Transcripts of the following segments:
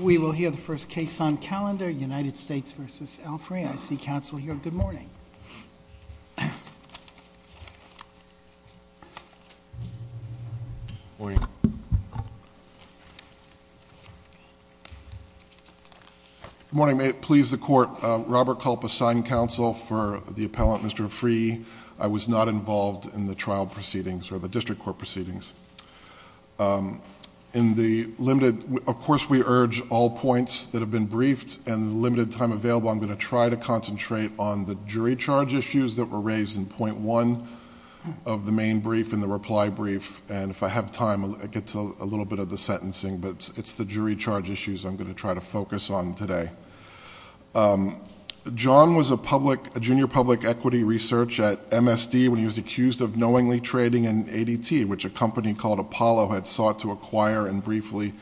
We will hear the first case on calendar, United States v. Alfrey. I see counsel here. Good morning. Good morning. Good morning. May it please the Court, Robert Culp assigned counsel for the appellant, Mr. Afrey. I was not involved in the trial proceedings or the district court proceedings. Of course, we urge all points that have been briefed and the limited time available, I'm going to try to concentrate on the jury charge issues that were raised in point one of the main brief and the reply brief. And if I have time, I'll get to a little bit of the sentencing. But it's the jury charge issues I'm going to try to focus on today. John was a junior public equity research at MSD when he was accused of knowingly trading in ADT, which a company called Apollo had sought to acquire and briefly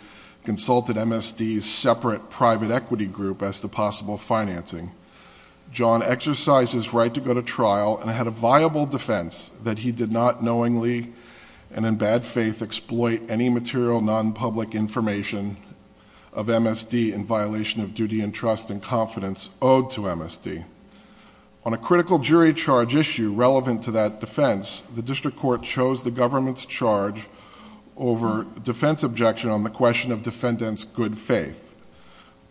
consulted MSD's separate private equity group as to possible financing. John exercised his right to go to trial and had a viable defense that he did not knowingly and in bad faith exploit any material non-public information of MSD in violation of duty and trust and confidence owed to MSD. On a critical jury charge issue relevant to that defense, the district court chose the government's charge over defense objection on the question of defendant's good faith.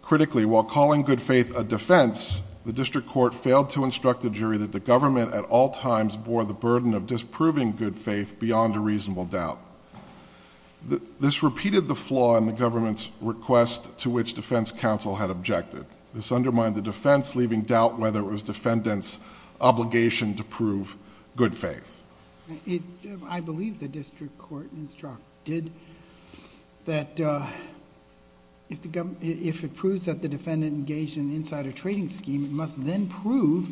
Critically, while calling good faith a defense, the district court failed to instruct the jury that the government at all times bore the burden of disproving good faith beyond a reasonable doubt. This repeated the flaw in the government's request to which defense counsel had objected. This undermined the defense, leaving doubt whether it was defendant's obligation to prove good faith. I believe the district court instructed that if it proves that the defendant engaged in an insider trading scheme, it must then prove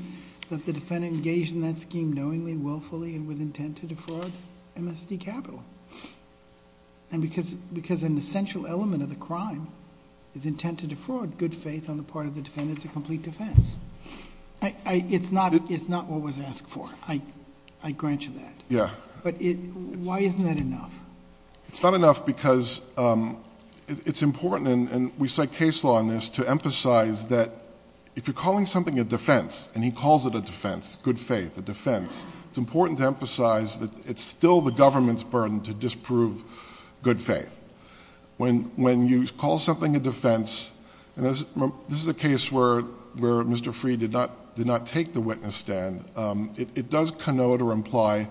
that the defendant engaged in that scheme knowingly, willfully, and with intent to defraud MSD Capital. And because an essential element of the crime is intent to defraud good faith on the part of the defendant, it's a complete defense. It's not what was asked for, I grant you that. Yeah. But why isn't that enough? It's not enough because it's important, and we cite case law on this, to emphasize that if you're calling something a defense, and he calls it a defense, good faith, a defense, it's important to emphasize that it's still the government's burden to disprove good faith. When you call something a defense, and this is a case where Mr. Freed did not take the witness stand, it does connote or imply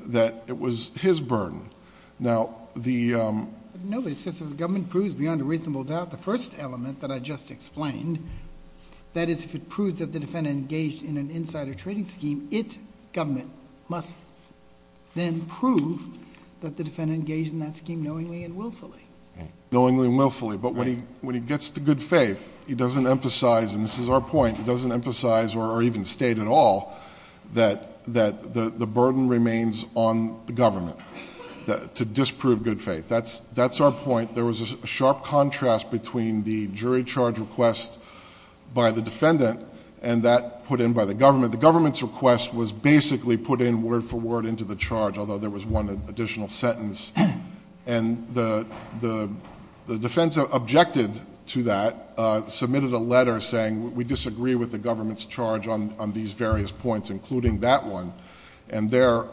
that it was his burden. Now, the... No, it's just that if the government proves beyond a reasonable doubt the first element that I just explained, that is if it proves that the defendant engaged in an insider trading scheme, then it, government, must then prove that the defendant engaged in that scheme knowingly and willfully. Knowingly and willfully. But when he gets to good faith, he doesn't emphasize, and this is our point, he doesn't emphasize or even state at all that the burden remains on the government to disprove good faith. That's our point. There was a sharp contrast between the jury charge request by the defendant and that put in by the government. The government's request was basically put in word for word into the charge, although there was one additional sentence. And the defense objected to that, submitted a letter saying, we disagree with the government's charge on these various points, including that one. And their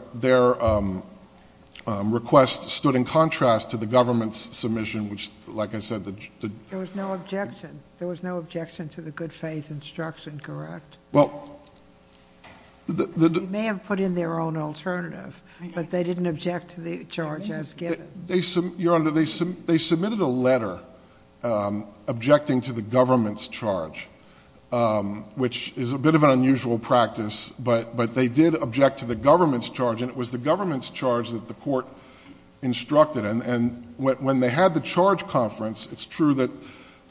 request stood in contrast to the government's submission, which, like I said... There was no objection. There was no objection to the good faith instruction, correct? Well... They may have put in their own alternative, but they didn't object to the charge as given. Your Honor, they submitted a letter objecting to the government's charge, which is a bit of an unusual practice, but they did object to the government's charge, and it was the government's charge that the court instructed. And when they had the charge conference, it's true that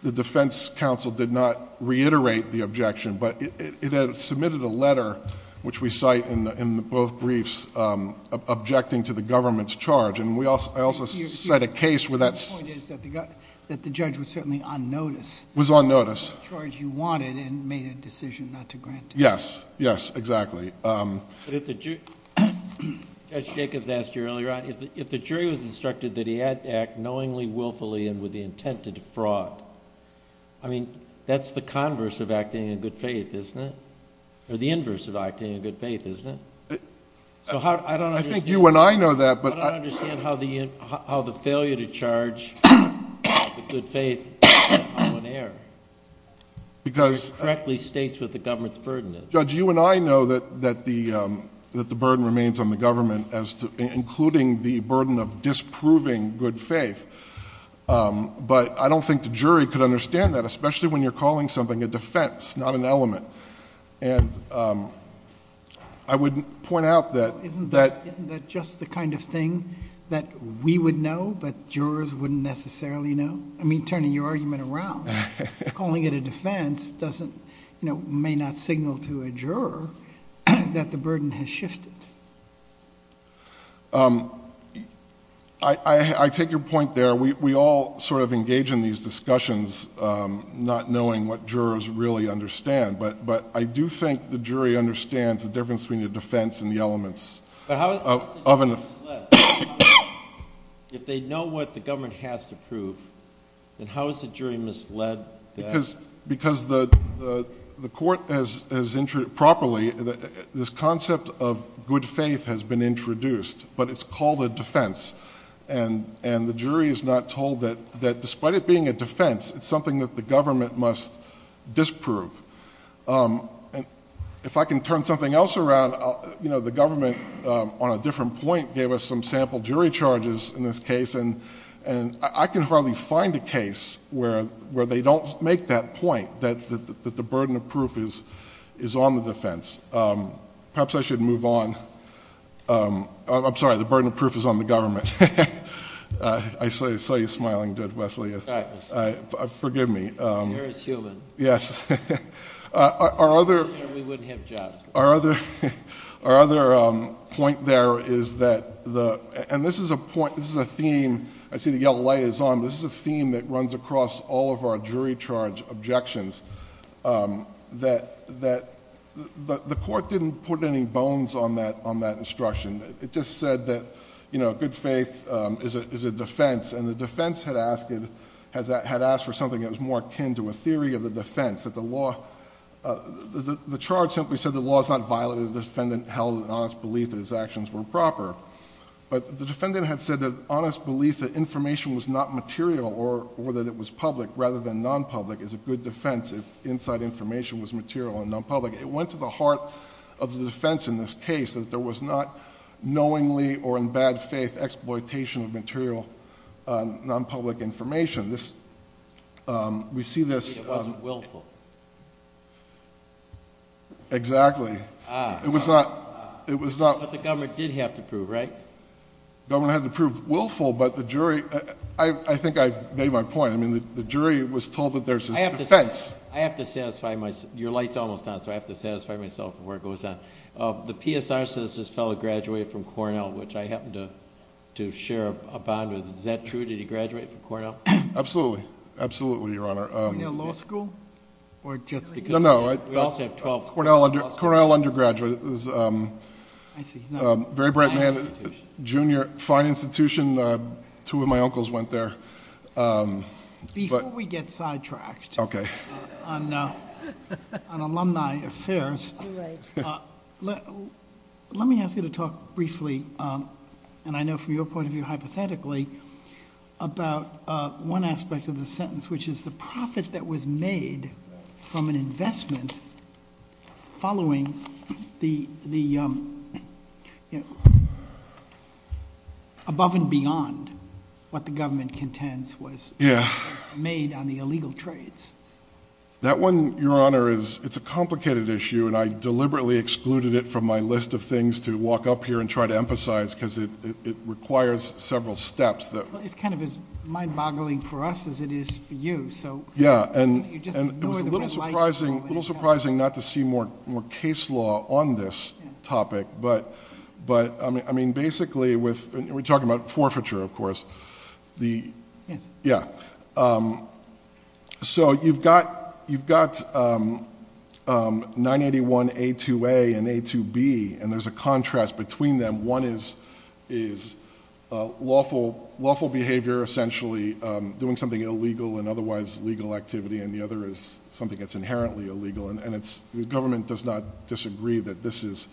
the defense counsel did not reiterate the objection, but it had submitted a letter, which we cite in both briefs, objecting to the government's charge. And I also cite a case where that... The point is that the judge was certainly on notice. Was on notice. The charge you wanted and made a decision not to grant it. Yes. Yes, exactly. But if the jury... Judge Jacobs asked you earlier on, if the jury was instructed that he had to act knowingly, willfully, and with the intent to defraud, I mean, that's the converse of acting in good faith, isn't it? Or the inverse of acting in good faith, isn't it? So how... I don't understand... I think you and I know that, but... I don't understand how the failure to charge with good faith is a common error. Because... It correctly states what the government's burden is. Judge, you and I know that the burden remains on the government as to... including the burden of disproving good faith. But I don't think the jury could understand that, especially when you're calling something a defense, not an element. And I would point out that... Isn't that just the kind of thing that we would know, but jurors wouldn't necessarily know? I mean, turning your argument around, calling it a defense doesn't... may not signal to a juror that the burden has shifted. I take your point there. We all sort of engage in these discussions not knowing what jurors really understand. But I do think the jury understands the difference between a defense and the elements of an... But how is the jury misled? If they know what the government has to prove, then how is the jury misled? Because the court has properly... This concept of good faith has been introduced, but it's called a defense. And the jury is not told that despite it being a defense, it's something that the government must disprove. If I can turn something else around... The government, on a different point, gave us some sample jury charges in this case. I can hardly find a case where they don't make that point, that the burden of proof is on the defense. Perhaps I should move on. I'm sorry, the burden of proof is on the government. I saw you smiling, Judge Wesley. Forgive me. You're as human. Yes. We wouldn't have jobs. Our other point there is that... And this is a theme... I see the yellow light is on. This is a theme that runs across all of our jury charge objections. The court didn't put any bones on that instruction. It just said that good faith is a defense. And the defense had asked for something that was more akin to a theory of the defense. The charge simply said the law is not violated if the defendant held an honest belief that his actions were proper. But the defendant had said that honest belief that information was not material or that it was public rather than non-public is a good defense if inside information was material and non-public. It went to the heart of the defense in this case that there was not knowingly or in bad faith exploitation of material non-public information. We see this... It wasn't willful. Exactly. It was not... But the government did have to prove, right? The government had to prove willful, but the jury... I think I've made my point. The jury was told that there's this defense. I have to satisfy myself. Your light's almost on, so I have to satisfy myself before it goes on. The PSR Citizens Fellow graduated from Cornell, which I happen to share a bond with. Is that true? Did he graduate from Cornell? Absolutely. Absolutely, Your Honor. Were you in law school or just... No, no. We also have 12... Cornell undergraduate. I see. Very bright man. Fine institution. Junior. Fine institution. Two of my uncles went there. Before we get sidetracked... Okay.... on alumni affairs... Right. Let me ask you to talk briefly, and I know from your point of view hypothetically, about one aspect of the sentence, which is the profit that was made from an investment following the... above and beyond what the government contends was made on the illegal trades. That one, Your Honor, it's a complicated issue, and I deliberately excluded it from my list of things to walk up here and try to emphasize because it requires several steps that... It's kind of as mind-boggling for us as it is for you, so... Yeah, and it was a little surprising not to see more case law on this topic, but basically with... We're talking about forfeiture, of course. Yes. Yeah. So, you've got 981A2A and A2B, and there's a contrast between them. One is lawful behavior, essentially, doing something illegal and otherwise legal activity, and the other is something that's inherently illegal, and the government does not disagree that this is...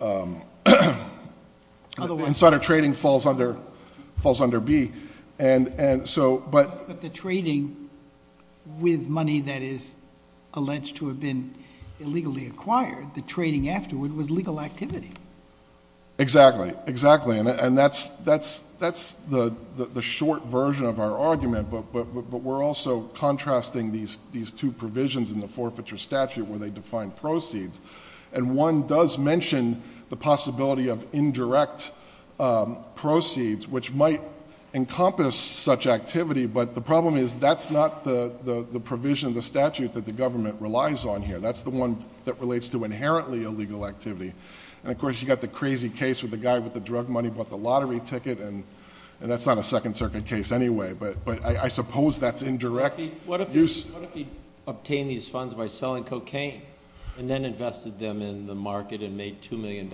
Otherwise... But the trading with money that is alleged to have been illegally acquired, the trading afterward was legal activity. Exactly, exactly, and that's the short version of our argument, but we're also contrasting these two provisions in the forfeiture statute where they define proceeds, and one does mention the possibility of indirect proceeds, which might encompass such activity, but the problem is that's not the provision of the statute that the government relies on here. That's the one that relates to inherently illegal activity, and, of course, you've got the crazy case where the guy with the drug money bought the lottery ticket, and that's not a Second Circuit case anyway, but I suppose that's indirect. What if he obtained these funds by selling cocaine and then invested them in the market and made $2 million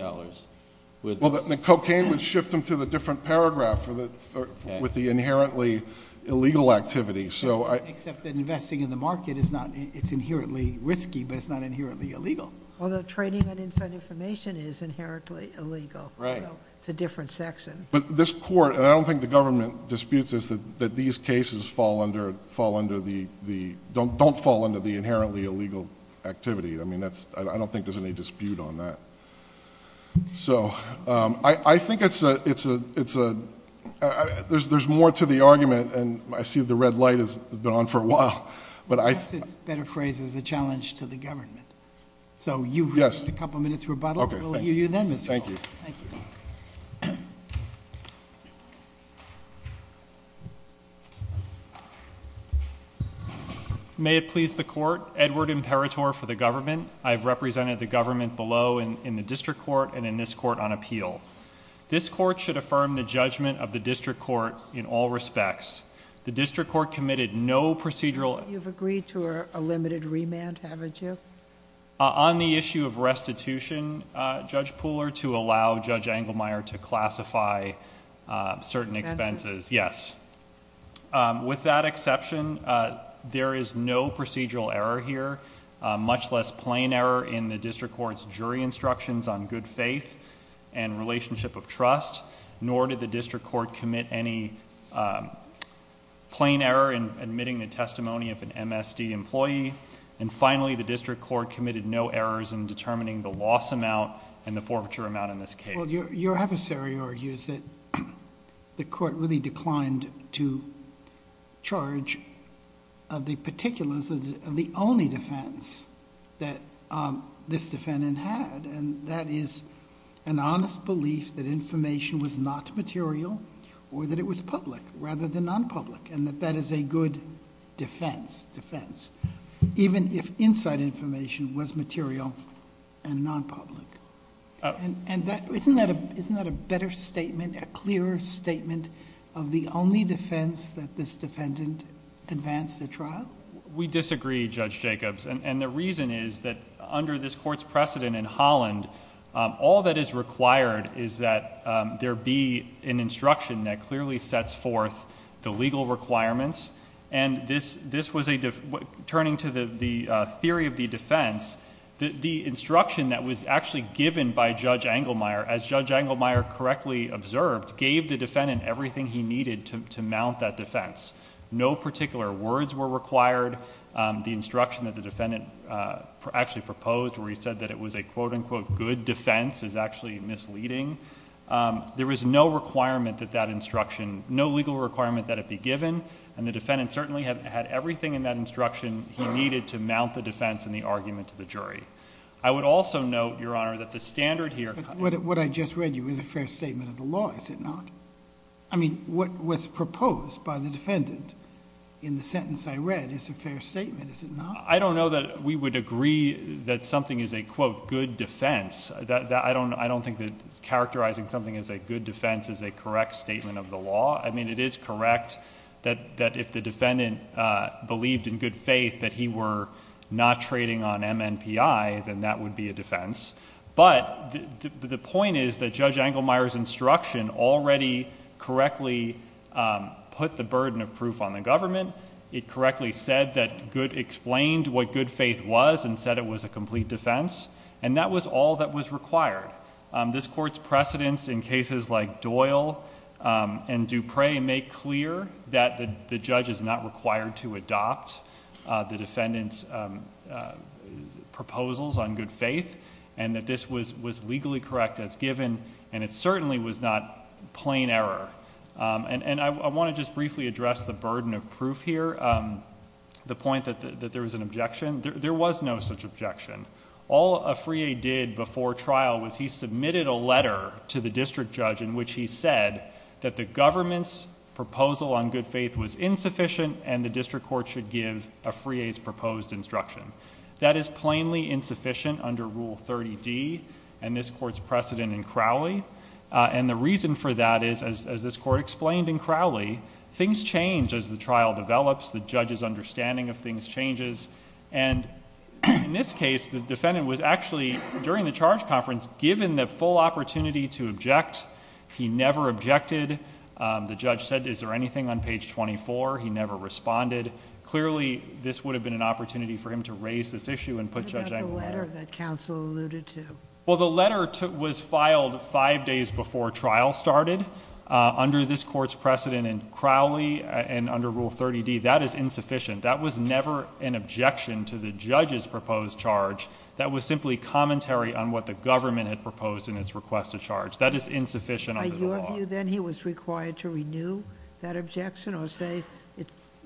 with... Well, the cocaine would shift them to the different paragraph with the inherently illegal activity, so I... Except that investing in the market is not... it's inherently risky, but it's not inherently illegal. Although trading and inside information is inherently illegal. Right. It's a different section. But this court, and I don't think the government disputes this, that these cases fall under the... don't fall under the inherently illegal activity. I mean, that's... I don't think there's any dispute on that. So, I think it's a... there's more to the argument, and I see the red light has been on for a while, but I... Perhaps it's better phrased as a challenge to the government. So, you've... Yes.... a couple minutes rebuttal. Okay. Thank you. Thank you, then, Mr. Clark. Thank you. Thank you. May it please the Court, Edward Imperator for the government. I have represented the government below in the district court and in this court on appeal. This court should affirm the judgment of the district court in all respects. The district court committed no procedural... You've agreed to a limited remand, haven't you? On the issue of restitution, Judge Pooler, to allow Judge Engelmeyer to classify certain expenses. Expenses. Yes. With that exception, there is no procedural error here, much less plain error in the district court's jury instructions on good faith and relationship of trust, nor did the district court commit any plain error in admitting the testimony of an MSD employee. Finally, the district court committed no errors in determining the loss amount and the forfeiture amount in this case. Well, your adversary argues that the court really declined to charge the particulars of the only defense that this defendant had, and that is an honest belief that information was not material or that it was public rather than non-public, and that is a good defense, defense, even if inside information was material and non-public. Isn't that a better statement, a clearer statement of the only defense that this defendant advanced at trial? We disagree, Judge Jacobs, and the reason is that under this court's precedent in Holland, all that is required is that there be an instruction that clearly sets forth the legal requirements, and this was a... turning to the theory of the defense, the instruction that was actually given by Judge Engelmeyer, as Judge Engelmeyer correctly observed, gave the defendant everything he needed to mount that defense. No particular words were required. The instruction that the defendant actually proposed where he said that it was a quote-unquote good defense is actually misleading. There was no requirement that that instruction, no legal requirement that it be given, and the defendant certainly had everything in that instruction he needed to mount the defense in the argument to the jury. I would also note, Your Honor, that the standard here... But what I just read you is a fair statement of the law, is it not? I mean, what was proposed by the defendant in the sentence I read is a fair statement, is it not? I don't know that we would agree that something is a quote good defense. I don't think that characterizing something as a good defense is a correct statement of the law. I mean, it is correct that if the defendant believed in good faith that he were not trading on MNPI, then that would be a defense. But the point is that Judge Engelmeyer's instruction already correctly put the burden of proof on the government. It correctly said that... explained what good faith was and said it was a complete defense, and that was all that was required. This Court's precedence in cases like Doyle and Dupre make clear that the judge is not required to adopt the defendant's proposals on good faith, and that this was legally correct as given, and it certainly was not plain error. I want to just briefly address the burden of proof here, the point that there was an objection. There was no such objection. All Afriye did before trial was he submitted a letter to the district judge in which he said that the government's proposal on good faith was insufficient and the district court should give Afriye's proposed instruction. That is plainly insufficient under Rule 30D and this Court's precedent in Crowley. The reason for that is, as this Court explained in Crowley, things change as the trial develops. The judge's understanding of things changes. In this case, the defendant was actually, during the charge conference, given the full opportunity to object. He never objected. The judge said, is there anything on page 24? He never responded. Clearly, this would have been an opportunity for him to raise this issue and put Judge Engelmeyer... Five days before trial started, under this Court's precedent in Crowley and under Rule 30D, that is insufficient. That was never an objection to the judge's proposed charge. That was simply commentary on what the government had proposed in its request to charge. That is insufficient under the law. Are you of view then he was required to renew that objection or say,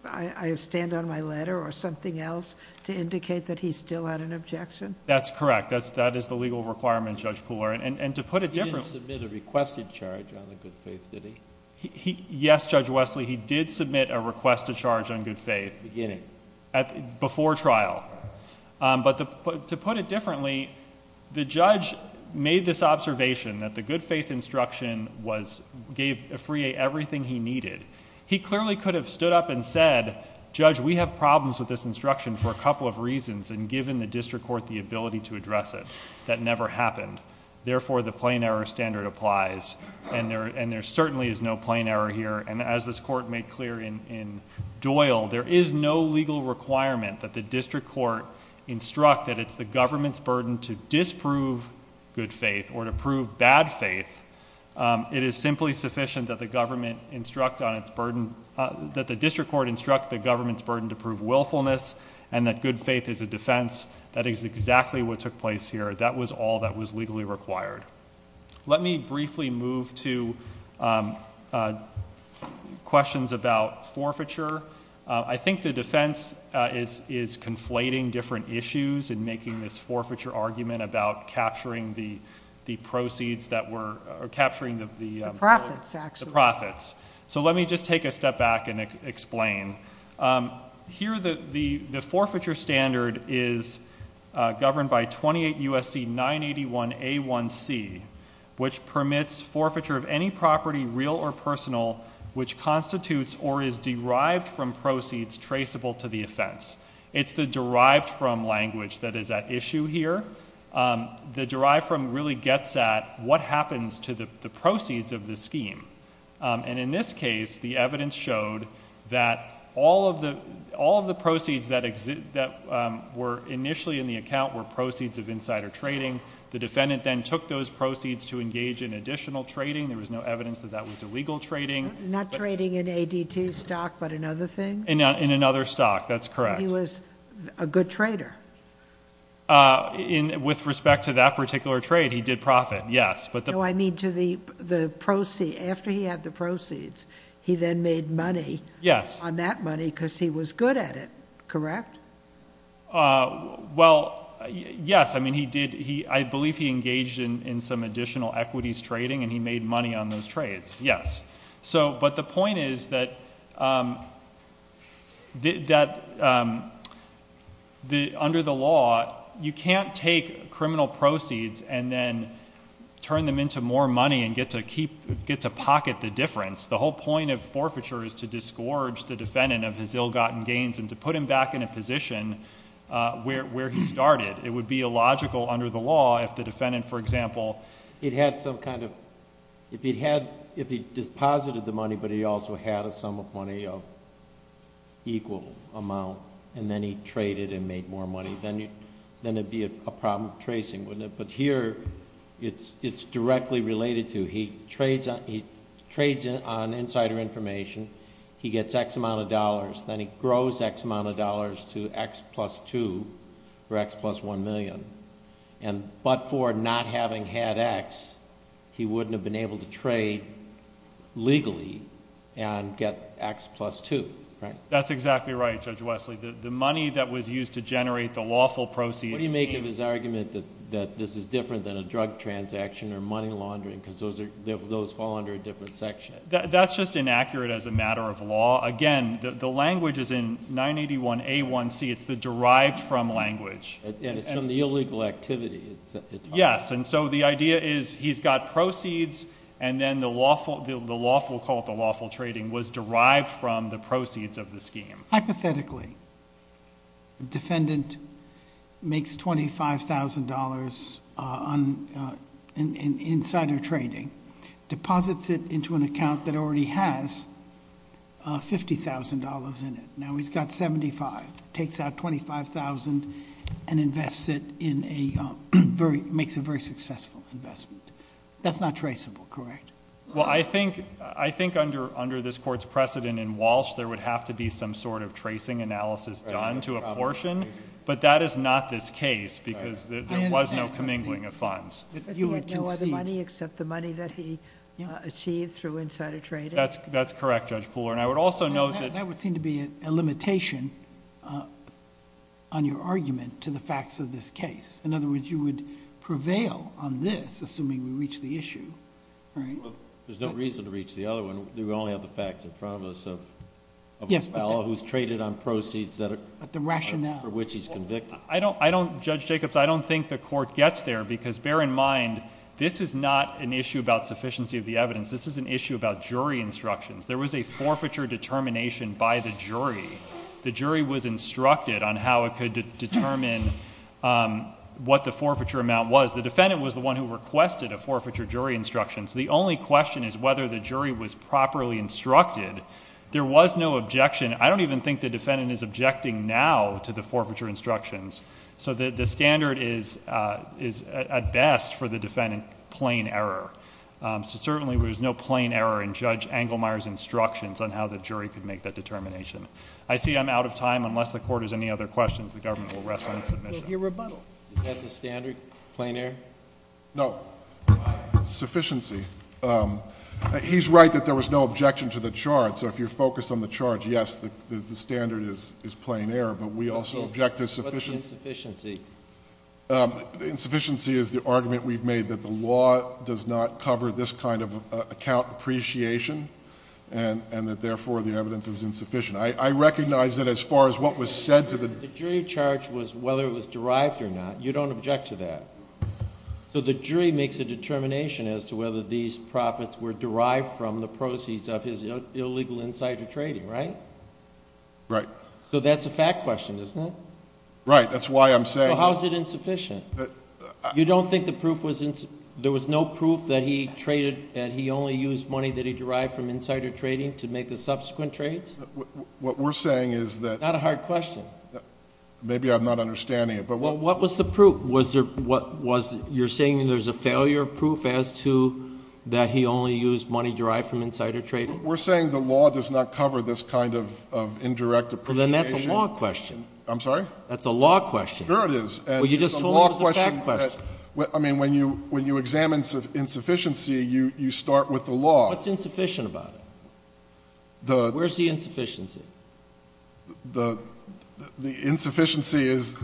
I stand on my letter or something else to indicate that he still had an objection? That's correct. That is the legal requirement, Judge Pooler. He didn't submit a requested charge on the good faith, did he? Yes, Judge Wesley. He did submit a requested charge on good faith. Beginning? Before trial. To put it differently, the judge made this observation that the good faith instruction gave Frey everything he needed. He clearly could have stood up and said, Judge, we have problems with this instruction for a couple of reasons and given the district court the ability to address it. That never happened. Therefore, the plain error standard applies. There certainly is no plain error here. As this court made clear in Doyle, there is no legal requirement that the district court instruct that it's the government's burden to disprove good faith or to prove bad faith. It is simply sufficient that the district court instruct the government's burden to prove willfulness and that good faith is a defense. That is exactly what took place here. That was all that was legally required. Let me briefly move to questions about forfeiture. I think the defense is conflating different issues in making this forfeiture argument about capturing the proceeds that were... The profits, actually. The profits. Let me just take a step back and explain. Here, the forfeiture standard is governed by 28 U.S.C. 981A1C, which permits forfeiture of any property, real or personal, which constitutes or is derived from proceeds traceable to the offense. It's the derived from language that is at issue here. The derived from really gets at what happens to the proceeds of the scheme. In this case, the evidence showed that all of the proceeds that were initially in the account were proceeds of insider trading. The defendant then took those proceeds to engage in additional trading. There was no evidence that that was illegal trading. Not trading in ADT stock, but in other things? In another stock. That's correct. He was a good trader? With respect to that particular trade, he did profit, yes. I mean, after he had the proceeds, he then made money on that money because he was good at it, correct? Well, yes. I believe he engaged in some additional equities trading, and he made money on those trades, yes. The point is that under the law, you can't take criminal proceeds and then turn them into more money and get to pocket the difference. The whole point of forfeiture is to disgorge the defendant of his ill-gotten gains and to put him back in a position where he started. It would be illogical under the law if the defendant, for example... If he deposited the money, but he also had a sum of money of equal amount, and then he traded and made more money, then it would be a problem of tracing, wouldn't it? Here, it's directly related to he trades on insider information, he gets X amount of dollars, then he grows X amount of dollars to X plus 2 or X plus 1 million. But for not having had X, he wouldn't have been able to trade legally and get X plus 2, correct? That's exactly right, Judge Wesley. The money that was used to generate the lawful proceeds... What do you make of his argument that this is different than a drug transaction or money laundering because those fall under a different section? That's just inaccurate as a matter of law. Again, the language is in 981A1C, it's the derived from language. And it's from the illegal activity. Yes, and so the idea is he's got proceeds and then the lawful, we'll call it the lawful trading, was derived from the proceeds of the scheme. Hypothetically, the defendant makes $25,000 in insider trading, deposits it into an account that already has $50,000 in it. Now, he's got $75,000, takes out $25,000 and makes a very successful investment. That's not traceable, correct? Well, I think under this court's precedent in Walsh, there would have to be some sort of tracing analysis done to a portion, but that is not this case because there was no commingling of funds. You had no other money except the money that he achieved through insider trading? That's correct, Judge Pooler, and I would also note that... That would seem to be a limitation on your argument to the facts of this case. In other words, you would prevail on this, assuming we reach the issue, right? Well, there's no reason to reach the other one. We only have the facts in front of us of... Yes, but...... who's traded on proceeds that are... The rationale...... for which he's convicted. Judge Jacobs, I don't think the court gets there because, bear in mind, this is not an issue about sufficiency of the evidence. This is an issue about jury instructions. There was a forfeiture determination by the jury. The jury was instructed on how it could determine what the forfeiture amount was. The defendant was the one who requested a forfeiture jury instruction, so the only question is whether the jury was properly instructed. There was no objection. I don't even think the defendant is objecting now to the forfeiture instructions, so the standard is, at best, for the defendant, plain error. So, certainly, there's no plain error in Judge Engelmeyer's instructions on how the jury could make that determination. I see I'm out of time. Unless the court has any other questions, the government will rest on its submission. We'll hear rebuttal. Is that the standard, plain error? No. Why? Sufficiency. He's right that there was no objection to the charge, so if you're focused on the charge, yes, the standard is plain error, but we also object to... What's the insufficiency? Insufficiency is the argument we've made that the law does not cover this kind of account appreciation and that, therefore, the evidence is insufficient. I recognize that as far as what was said to the... The jury charge was whether it was derived or not. You don't object to that. So the jury makes a determination as to whether these profits were derived from the proceeds of his illegal insider trading, right? Right. So that's a fact question, isn't it? Right. That's why I'm saying... Well, how is it insufficient? You don't think the proof was... there was no proof that he traded and he only used money that he derived from insider trading to make the subsequent trades? What we're saying is that... Not a hard question. Maybe I'm not understanding it, but... What was the proof? Was there... you're saying there's a failure of proof as to that he only used money derived from insider trading? We're saying the law does not cover this kind of indirect appreciation. Then that's a law question. I'm sorry? That's a law question. Sure it is. Well, you just told me it was a fact question. I mean, when you examine insufficiency, you start with the law. What's insufficient about it? The... Where's the insufficiency? The insufficiency is...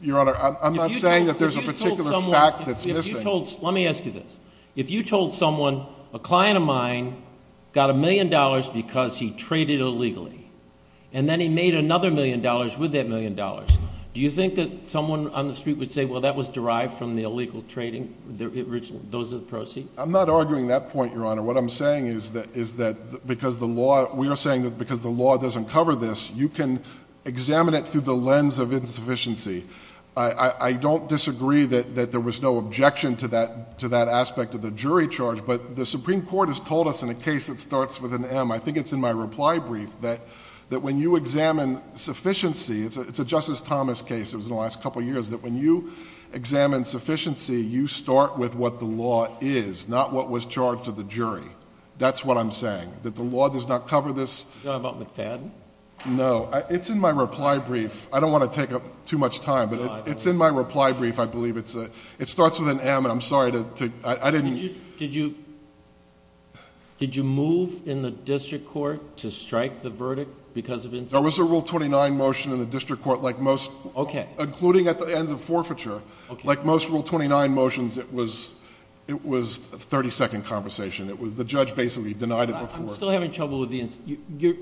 Your Honor, I'm not saying that there's a particular fact that's missing. Let me ask you this. If you told someone, a client of mine got a million dollars because he traded illegally, and then he made another million dollars with that million dollars, do you think that someone on the street would say, well, that was derived from the illegal trading, those are the proceeds? I'm not arguing that point, Your Honor. What I'm saying is that because the law... we are saying that because the law doesn't cover this, you can examine it through the lens of insufficiency. I don't disagree that there was no objection to that aspect of the jury charge, but the Supreme Court has told us in a case that starts with an M, I think it's in my reply brief, that when you examine sufficiency, it's a Justice Thomas case, it was in the last couple of years, that when you examine sufficiency, you start with what the law is, not what was charged to the jury. That's what I'm saying, that the law does not cover this... Is that about McFadden? No. It's in my reply brief. I don't want to take up too much time, but it's in my reply brief, I believe. It starts with an M, and I'm sorry to... I didn't... Did you move in the district court to strike the verdict because of... There was a Rule 29 motion in the district court, like most... Okay. Including at the end of forfeiture. Okay. Like most Rule 29 motions, it was a thirty-second conversation. The judge basically denied it before. I'm still having trouble with the...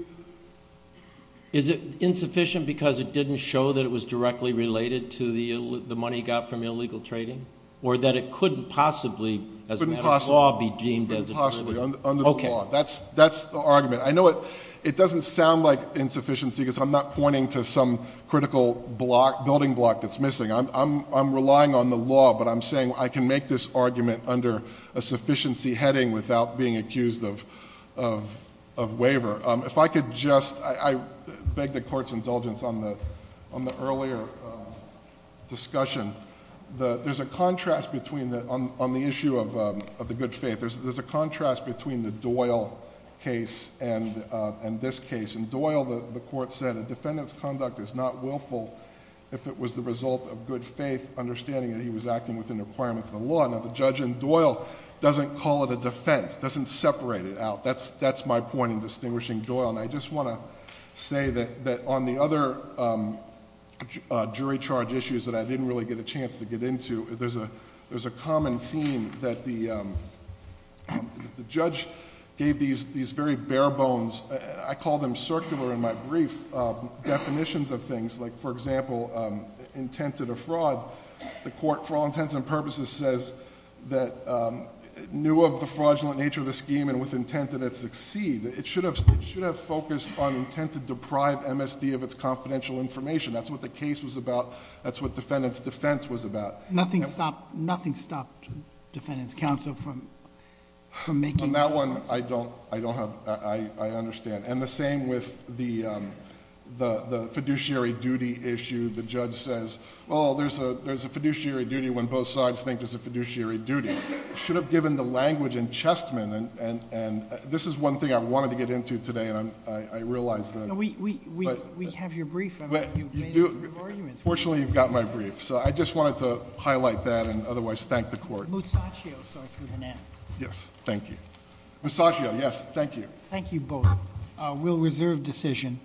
Is it insufficient because it didn't show that it was directly related to the money he got from illegal trading? Or that it couldn't possibly, as a matter of law, be deemed as... It couldn't possibly, under the law. Okay. That's the argument. I know it doesn't sound like insufficiency, because I'm not pointing to some critical building block that's missing. I'm relying on the law, but I'm saying I can make this argument under a sufficiency heading without being accused of waiver. If I could just... I beg the court's indulgence on the earlier discussion. There's a contrast between... On the issue of the good faith, there's a contrast between the Doyle case and this case. In Doyle, the court said, a defendant's conduct is not willful if it was the result of good faith, understanding that he was acting within the requirements of the law. Now, the judge in Doyle doesn't call it a defense, doesn't separate it out. That's my point in distinguishing Doyle. I just want to say that on the other jury charge issues that I didn't really get a chance to get into, there's a common theme that the judge gave these very bare bones... I call them circular in my brief, definitions of things. Like, for example, intent to defraud. The court, for all intents and purposes, says that it knew of the fraudulent nature of the scheme and with intent that it succeed. It should have focused on intent to deprive MSD of its confidential information. That's what the case was about. That's what defendant's defense was about. Nothing stopped defendant's counsel from making... On that one, I don't have... I understand. And the same with the fiduciary duty issue. The judge says, oh, there's a fiduciary duty when both sides think there's a fiduciary duty. Should have given the language in Chessman. And this is one thing I wanted to get into today, and I realize that... We have your brief. Fortunately, you've got my brief. So, I just wanted to highlight that and otherwise thank the court. Musacchio starts with an M. Yes, thank you. Musacchio, yes. Thank you. Thank you both. We'll reserve decision.